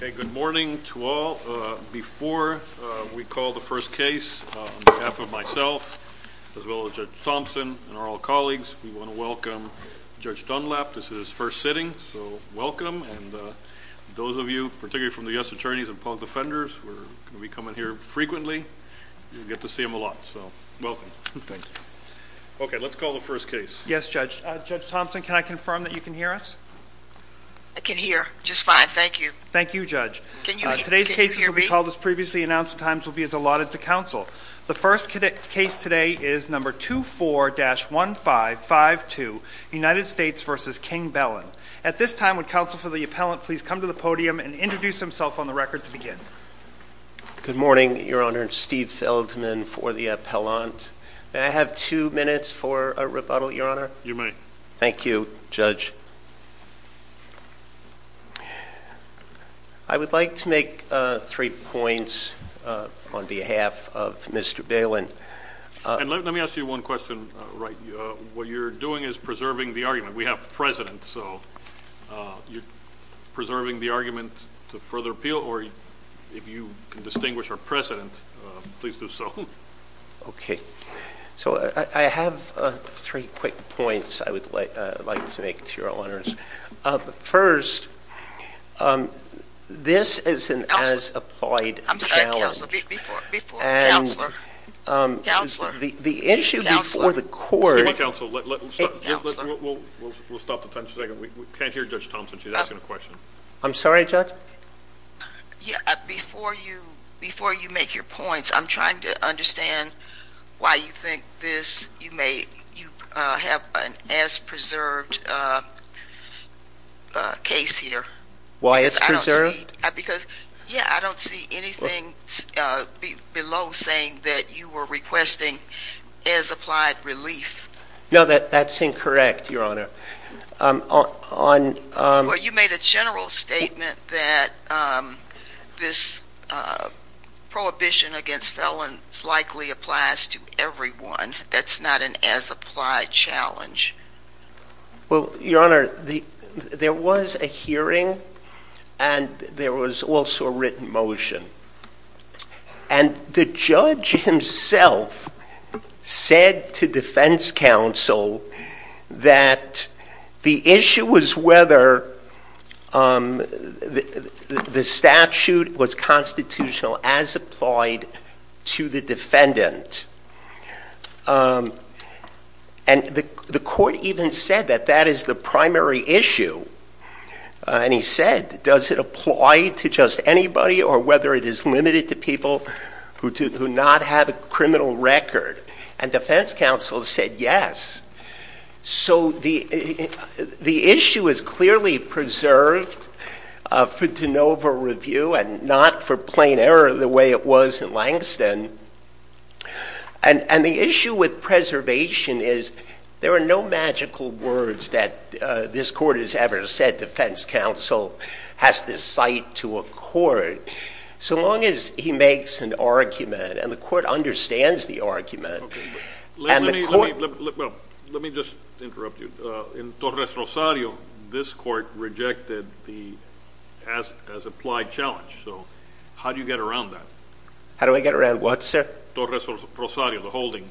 Good morning to all. Before we call the first case, on behalf of myself, as well as Judge Thompson and our colleagues, we want to welcome Judge Dunlap. This is his first sitting, so welcome. Those of you, particularly from the U.S. Attorneys and Public Defenders, we come in here frequently. You get to see him a lot, so welcome. Thank you. Okay, let's call the first case. Yes, Judge. Judge Thompson, can I confirm that you can hear us? I can hear just fine, thank you. Thank you, Judge. Today's case will be called as previously announced, and times will be as allotted to counsel. The first case today is No. 24-1552, United States v. King Belin. At this time, would counsel for the appellant please come to the podium and introduce himself on the record to begin? Good morning, Your Honor. Steve Feldman for the appellant. May I have two minutes for a rebuttal, Your Honor? You may. Thank you, Judge. I would like to make three points on behalf of Mr. Belin. Let me ask you one question, Wright. What you're doing is preserving the argument. We have a president, so you're preserving the argument to further appeal, or if you can distinguish our president, please do so. Okay. So, I have three quick points I would like to make to Your Honors. First, this is an as-applied challenge. I'm sorry, Counselor. Before, before, Counselor. The issue before the court. Excuse me, Counselor. We'll stop the time for a second. We can't hear Judge Thompson. She's asking a question. I'm sorry, Judge? Before you make your points, I'm trying to understand why you think this, you may, you have an as-preserved case here. Why as-preserved? Because, yeah, I don't see anything below saying that you were requesting as-applied relief. No, that's incorrect, Your Honor. Well, you made a general statement that this prohibition against felons likely applies to everyone. That's not an as-applied challenge. Well, Your Honor, there was a hearing, and there was also a written motion. And the judge himself said to defense counsel that the issue was whether the statute was constitutional as applied to the defendant. And the court even said that that is the primary issue. And he said, does it apply to just anybody or whether it is limited to people who do not have a criminal record? And defense counsel said yes. So the issue is clearly preserved for de novo review and not for plain error the way it was in Langston. And the issue with preservation is there are no magical words that this court has ever said defense counsel has to cite to a court. So long as he makes an argument, and the court understands the argument, and the court... Let me just interrupt you. In Torres-Rosario, this court rejected the as-applied challenge. So how do you get around that? How do I get around what, sir? Torres-Rosario, the holding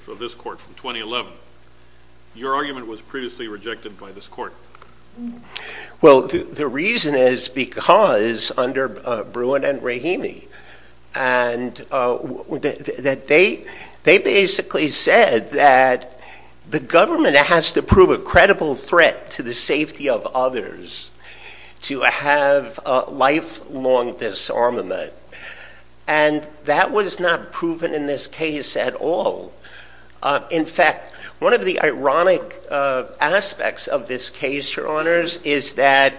for this court from 2011. Your argument was previously rejected by this court. Well, the reason is because under Bruin and Rahimi, they basically said that the government has to prove a credible threat to the safety of others to have lifelong disarmament. And that was not proven in this case at all. In fact, one of the ironic aspects of this case, your honors, is that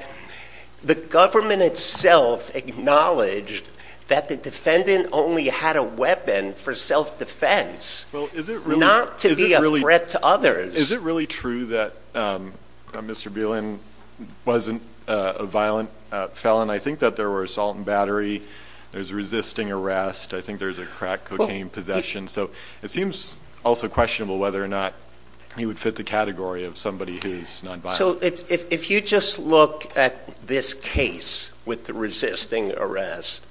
the government itself acknowledged that the defendant only had a weapon for self-defense, not to be a threat to others. Is it really true that Mr. Bielen wasn't a violent felon? I think that there were assault and battery. There's resisting arrest. I think there's a crack cocaine possession. So it seems also questionable whether or not he would fit the category of somebody who's non-violent. So if you just look at this case with the resisting arrest,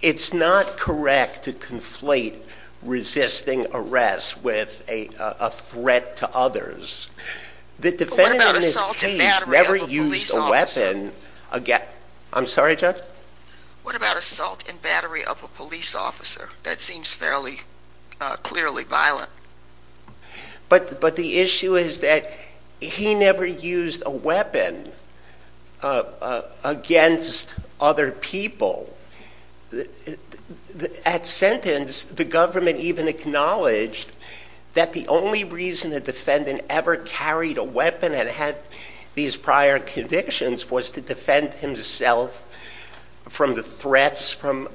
it's not correct to conflate resisting arrest with a threat to others. The defendant in this case never used a weapon again. I'm sorry, Judge? What about assault and battery of a police officer that seems fairly clearly violent? But the issue is that he never used a weapon against other people. At sentence, the government even acknowledged that the only reason the defendant ever carried a weapon and had these prior convictions was to defend himself from the threats from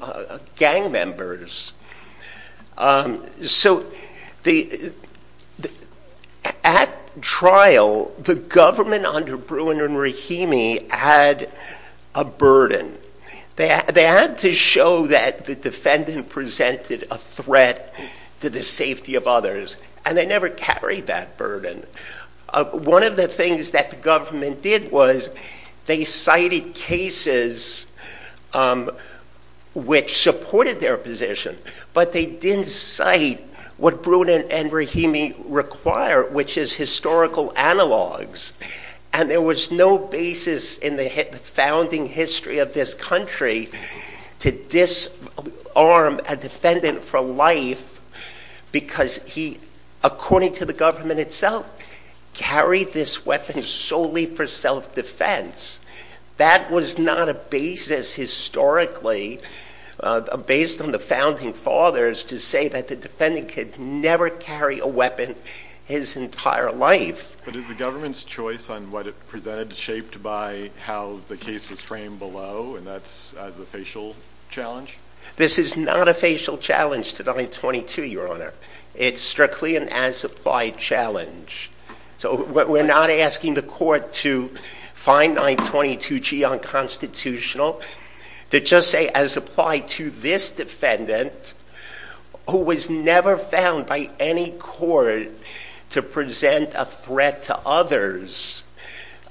gang members. So at trial, the government under Bruin and Rahimi had a burden. They had to show that the defendant presented a threat to the safety of others, and they never carried that burden. One of the things that the government did was they cited cases which supported their position, but they didn't cite what Bruin and Rahimi require, which is historical analogs. And there was no basis in the founding history of this country to disarm a defendant for life because he, according to the government itself, carried this weapon solely for self-defense. That was not a basis historically, based on the founding fathers, to say that the defendant could never carry a weapon his entire life. But is the government's choice on what it presented shaped by how the case was framed below, and that's as a facial challenge? This is not a facial challenge to 922, Your Honor. It's strictly an as-applied challenge. So we're not asking the court to find 922G unconstitutional. To just say as applied to this defendant, who was never found by any court to present a threat to others,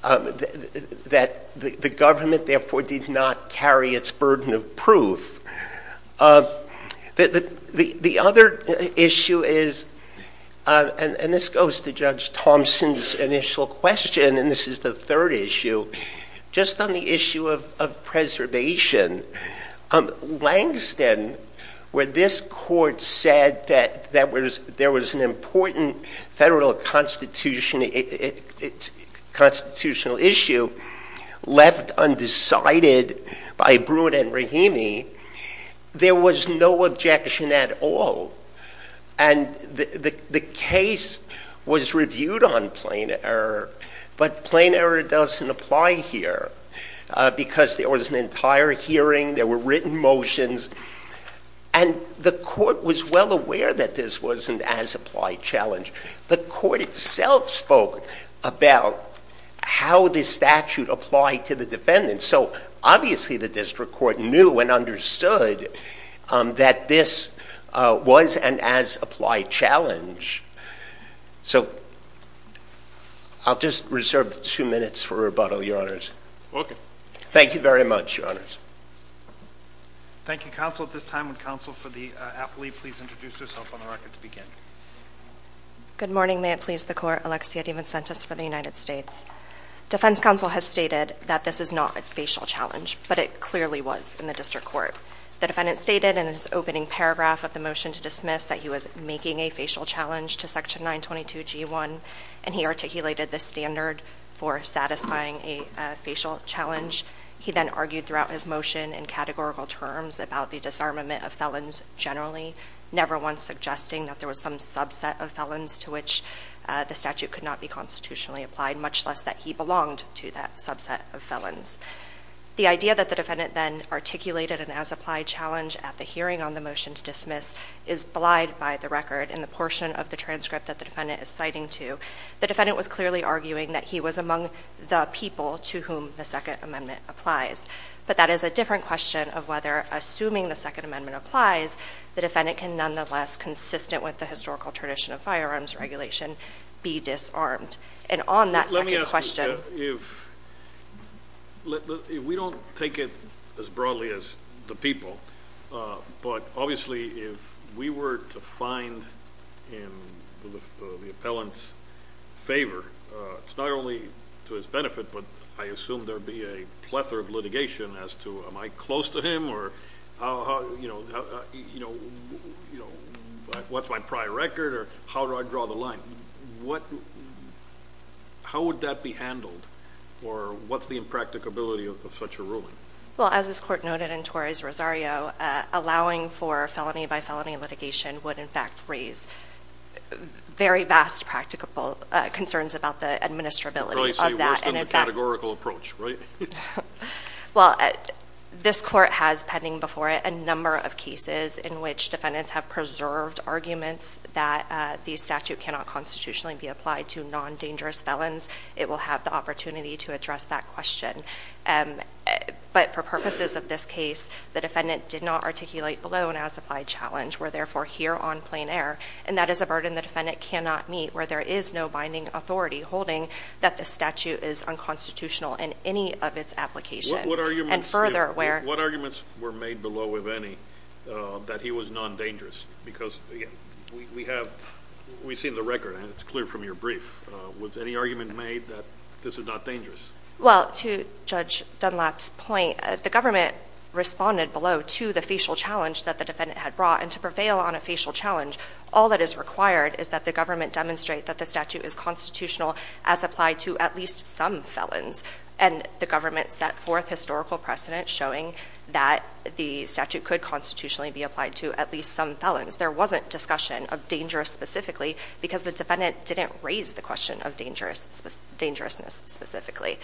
that the government therefore did not carry its burden of proof. The other issue is, and this goes to Judge Thompson's initial question, and this is the third issue, just on the issue of preservation. Langston, where this court said that there was an important federal constitutional issue left undecided by Bruin and Rahimi, there was no objection at all. And the case was reviewed on plain error, but plain error doesn't apply here. Because there was an entire hearing, there were written motions, and the court was well aware that this was an as-applied challenge. The court itself spoke about how this statute applied to the defendant. So obviously the district court knew and understood that this was an as-applied challenge. So, I'll just reserve two minutes for rebuttal, Your Honors. Okay. Thank you very much, Your Honors. Thank you, counsel. At this time, would counsel for the appellee please introduce herself on the record to begin? Good morning. May it please the court. Alexia DiVincentis for the United States. Defense counsel has stated that this is not a facial challenge, but it clearly was in the district court. The defendant stated in his opening paragraph of the motion to dismiss that he was making a facial challenge to Section 922G1, and he articulated the standard for satisfying a facial challenge. He then argued throughout his motion in categorical terms about the disarmament of felons generally, never once suggesting that there was some subset of felons to which the statute could not be constitutionally applied, much less that he belonged to that subset of felons. The idea that the defendant then articulated an as-applied challenge at the hearing on the record in the portion of the transcript that the defendant is citing to, the defendant was clearly arguing that he was among the people to whom the Second Amendment applies. But that is a different question of whether, assuming the Second Amendment applies, the defendant can nonetheless, consistent with the historical tradition of firearms regulation, be disarmed. And on that second question – Let me ask you, if – we don't take it as broadly as the people, but obviously if we were to find in the appellant's favor, it's not only to his benefit, but I assume there would be a plethora of litigation as to, am I close to him, or what's my prior record, or how do I draw the line, how would that be handled, or what's the impracticability of such a ruling? Well, as this Court noted in Torres-Rosario, allowing for felony-by-felony litigation would in fact raise very vast practicable concerns about the administrability of that. Right, so you're worse than the categorical approach, right? Well, this Court has pending before it a number of cases in which defendants have preserved arguments that the statute cannot constitutionally be applied to non-dangerous felons. It will have the opportunity to address that question. But for purposes of this case, the defendant did not articulate below an as-applied challenge. We're therefore here on plain error, and that is a burden the defendant cannot meet, where there is no binding authority holding that the statute is unconstitutional in any of its applications. And further, where – What arguments were made below, if any, that he was non-dangerous? Because, again, we have – we've seen the record, and it's clear from your brief. Was any argument made that this is not dangerous? Well, to Judge Dunlap's point, the government responded below to the facial challenge that the defendant had brought. And to prevail on a facial challenge, all that is required is that the government demonstrate that the statute is constitutional as applied to at least some felons. And the government set forth historical precedent showing that the statute could constitutionally be applied to at least some felons. There wasn't discussion of dangerous specifically because the defendant didn't raise the question of dangerousness specifically.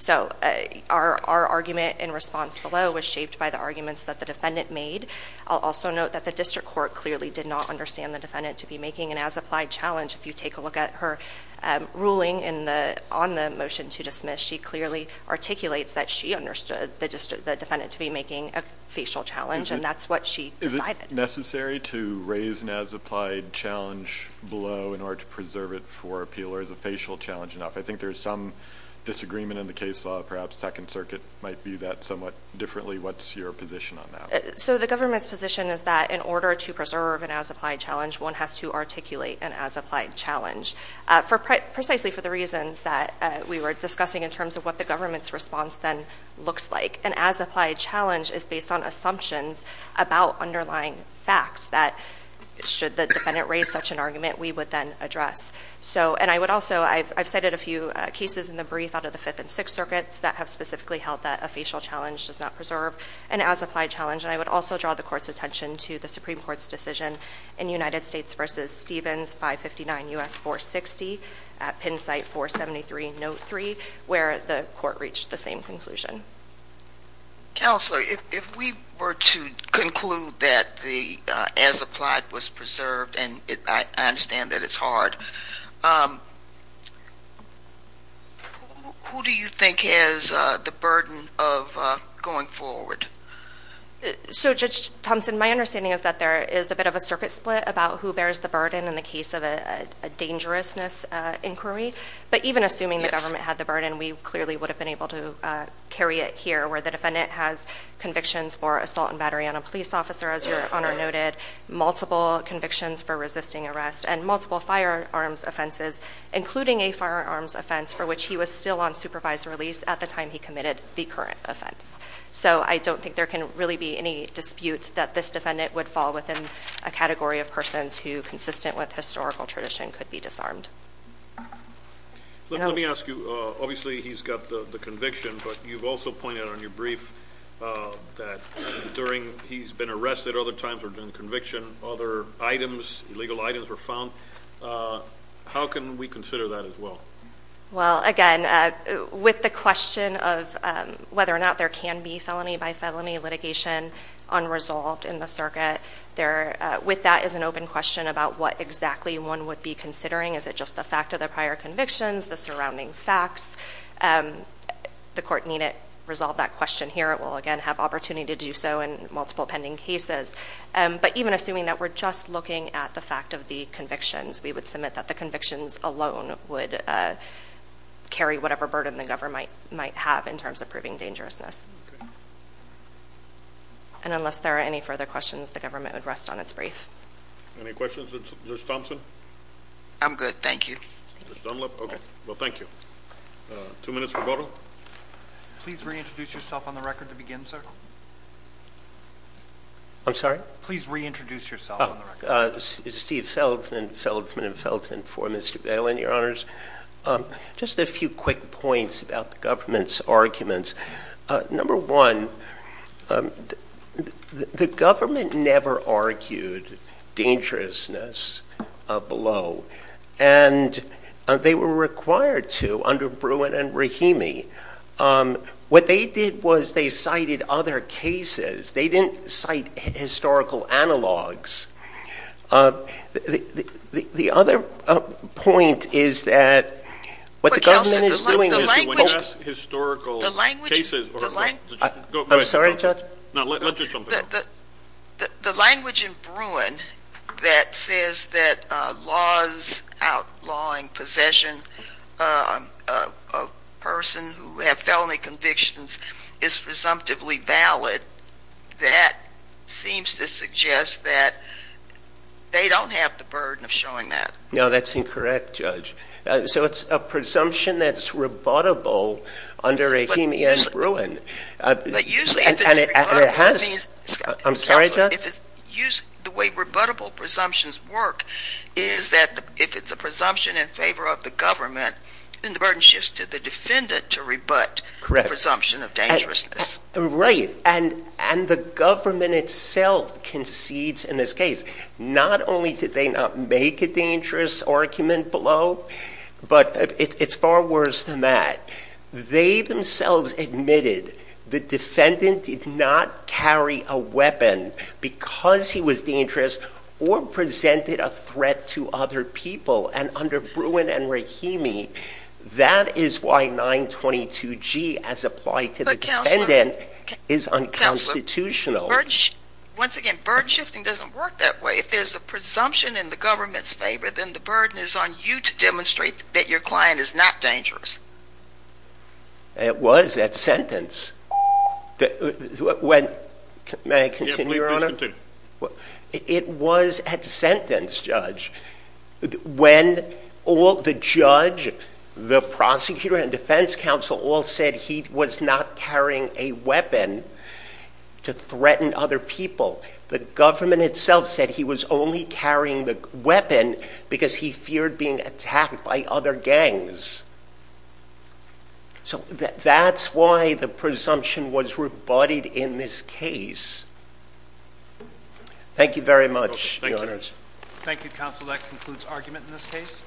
So, our argument in response below was shaped by the arguments that the defendant made. I'll also note that the district court clearly did not understand the defendant to be making an as-applied challenge. If you take a look at her ruling on the motion to dismiss, she clearly articulates that she understood the defendant to be making a facial challenge, and that's what she decided. Is it necessary to raise an as-applied challenge below in order to preserve it for appeal, or is a facial challenge enough? I think there's some disagreement in the case law. Perhaps Second Circuit might view that somewhat differently. What's your position on that? So, the government's position is that in order to preserve an as-applied challenge, one has to articulate an as-applied challenge. Precisely for the reasons that we were discussing in terms of what the government's response then looks like. An as-applied challenge is based on assumptions about underlying facts that should the defendant raise such an argument, we would then address. I've cited a few cases in the brief out of the Fifth and Sixth Circuits that have specifically held that a facial challenge does not preserve an as-applied challenge, and I would also draw the court's attention to the Supreme Court's decision in United States v. Stevens 559 U.S. 460 at Penn Site 473 Note 3, where the court reached the same conclusion. Counselor, if we were to conclude that the as-applied was preserved, and I understand that it's hard, who do you think has the burden of going forward? So, Judge Thompson, my understanding is that there is a bit of a circuit split about who bears the burden in the case of a dangerousness inquiry, but even assuming the government had the burden, we clearly would have been able to carry it here, where the defendant has convictions for assault and battery on a police officer, as your Honor noted, multiple convictions for resisting arrest, and multiple firearms offenses, including a firearms offense for which he was still on supervised release at the time he committed the current offense. So I don't think there can really be any dispute that this defendant would fall within a category of persons who, consistent with historical tradition, could be disarmed. Let me ask you, obviously he's got the conviction, but you've also pointed out in your brief that during, he's been arrested other times or during the conviction, other items, illegal items were found. How can we consider that as well? Well, again, with the question of whether or not there can be felony by felony litigation unresolved in the circuit, with that is an open question about what exactly one would be considering. Is it just the fact of the prior convictions, the surrounding facts? The court needn't resolve that question here. It will, again, have opportunity to do so in multiple pending cases. But even assuming that we're just looking at the fact of the convictions, we would submit that the convictions alone would carry whatever burden the government might have in terms of proving dangerousness. And unless there are any further questions, the government would rest on its brief. Any questions of Judge Thompson? I'm good, thank you. Okay, well, thank you. Two minutes rebuttal. Please reintroduce yourself on the record to begin, sir. I'm sorry? Please reintroduce yourself on the record. Steve Feldman, Feldman & Feldman for Mr. Galen, Your Honors. Just a few quick points about the government's arguments. Number one, the government never argued dangerousness below. And they were required to under Bruin and Rahimi. What they did was they cited other cases. They didn't cite historical analogs. The other point is that what the government is doing... I'm sorry, Judge? No, let Judge Thompson go. The language in Bruin that says that laws outlawing possession of a person who had felony convictions is presumptively valid, that seems to suggest that they don't have the burden of showing that. No, that's incorrect, Judge. So it's a presumption that's rebuttable under Rahimi and Bruin. But usually if it's rebuttable, that means... I'm sorry, Judge? The way rebuttable presumptions work is that if it's a presumption in favor of the government, then the burden shifts to the defendant to rebut the presumption of dangerousness. Right, and the government itself concedes in this case. Not only did they not make a dangerous argument below, but it's far worse than that. They themselves admitted the defendant did not carry a weapon because he was dangerous or presented a threat to other people. And under Bruin and Rahimi, that is why 922G as applied to the defendant is unconstitutional. Once again, burden shifting doesn't work that way. If there's a presumption in the government's favor, then the burden is on you to demonstrate that your client is not dangerous. It was at sentence. May I continue, Your Honor? Please continue. It was at sentence, Judge, when the judge, the prosecutor, and defense counsel all said that he was not carrying a weapon to threaten other people. The government itself said he was only carrying the weapon because he feared being attacked by other gangs. So that's why the presumption was rebutted in this case. Thank you very much, Your Honors. Thank you. Thank you, counsel. That concludes argument in this case.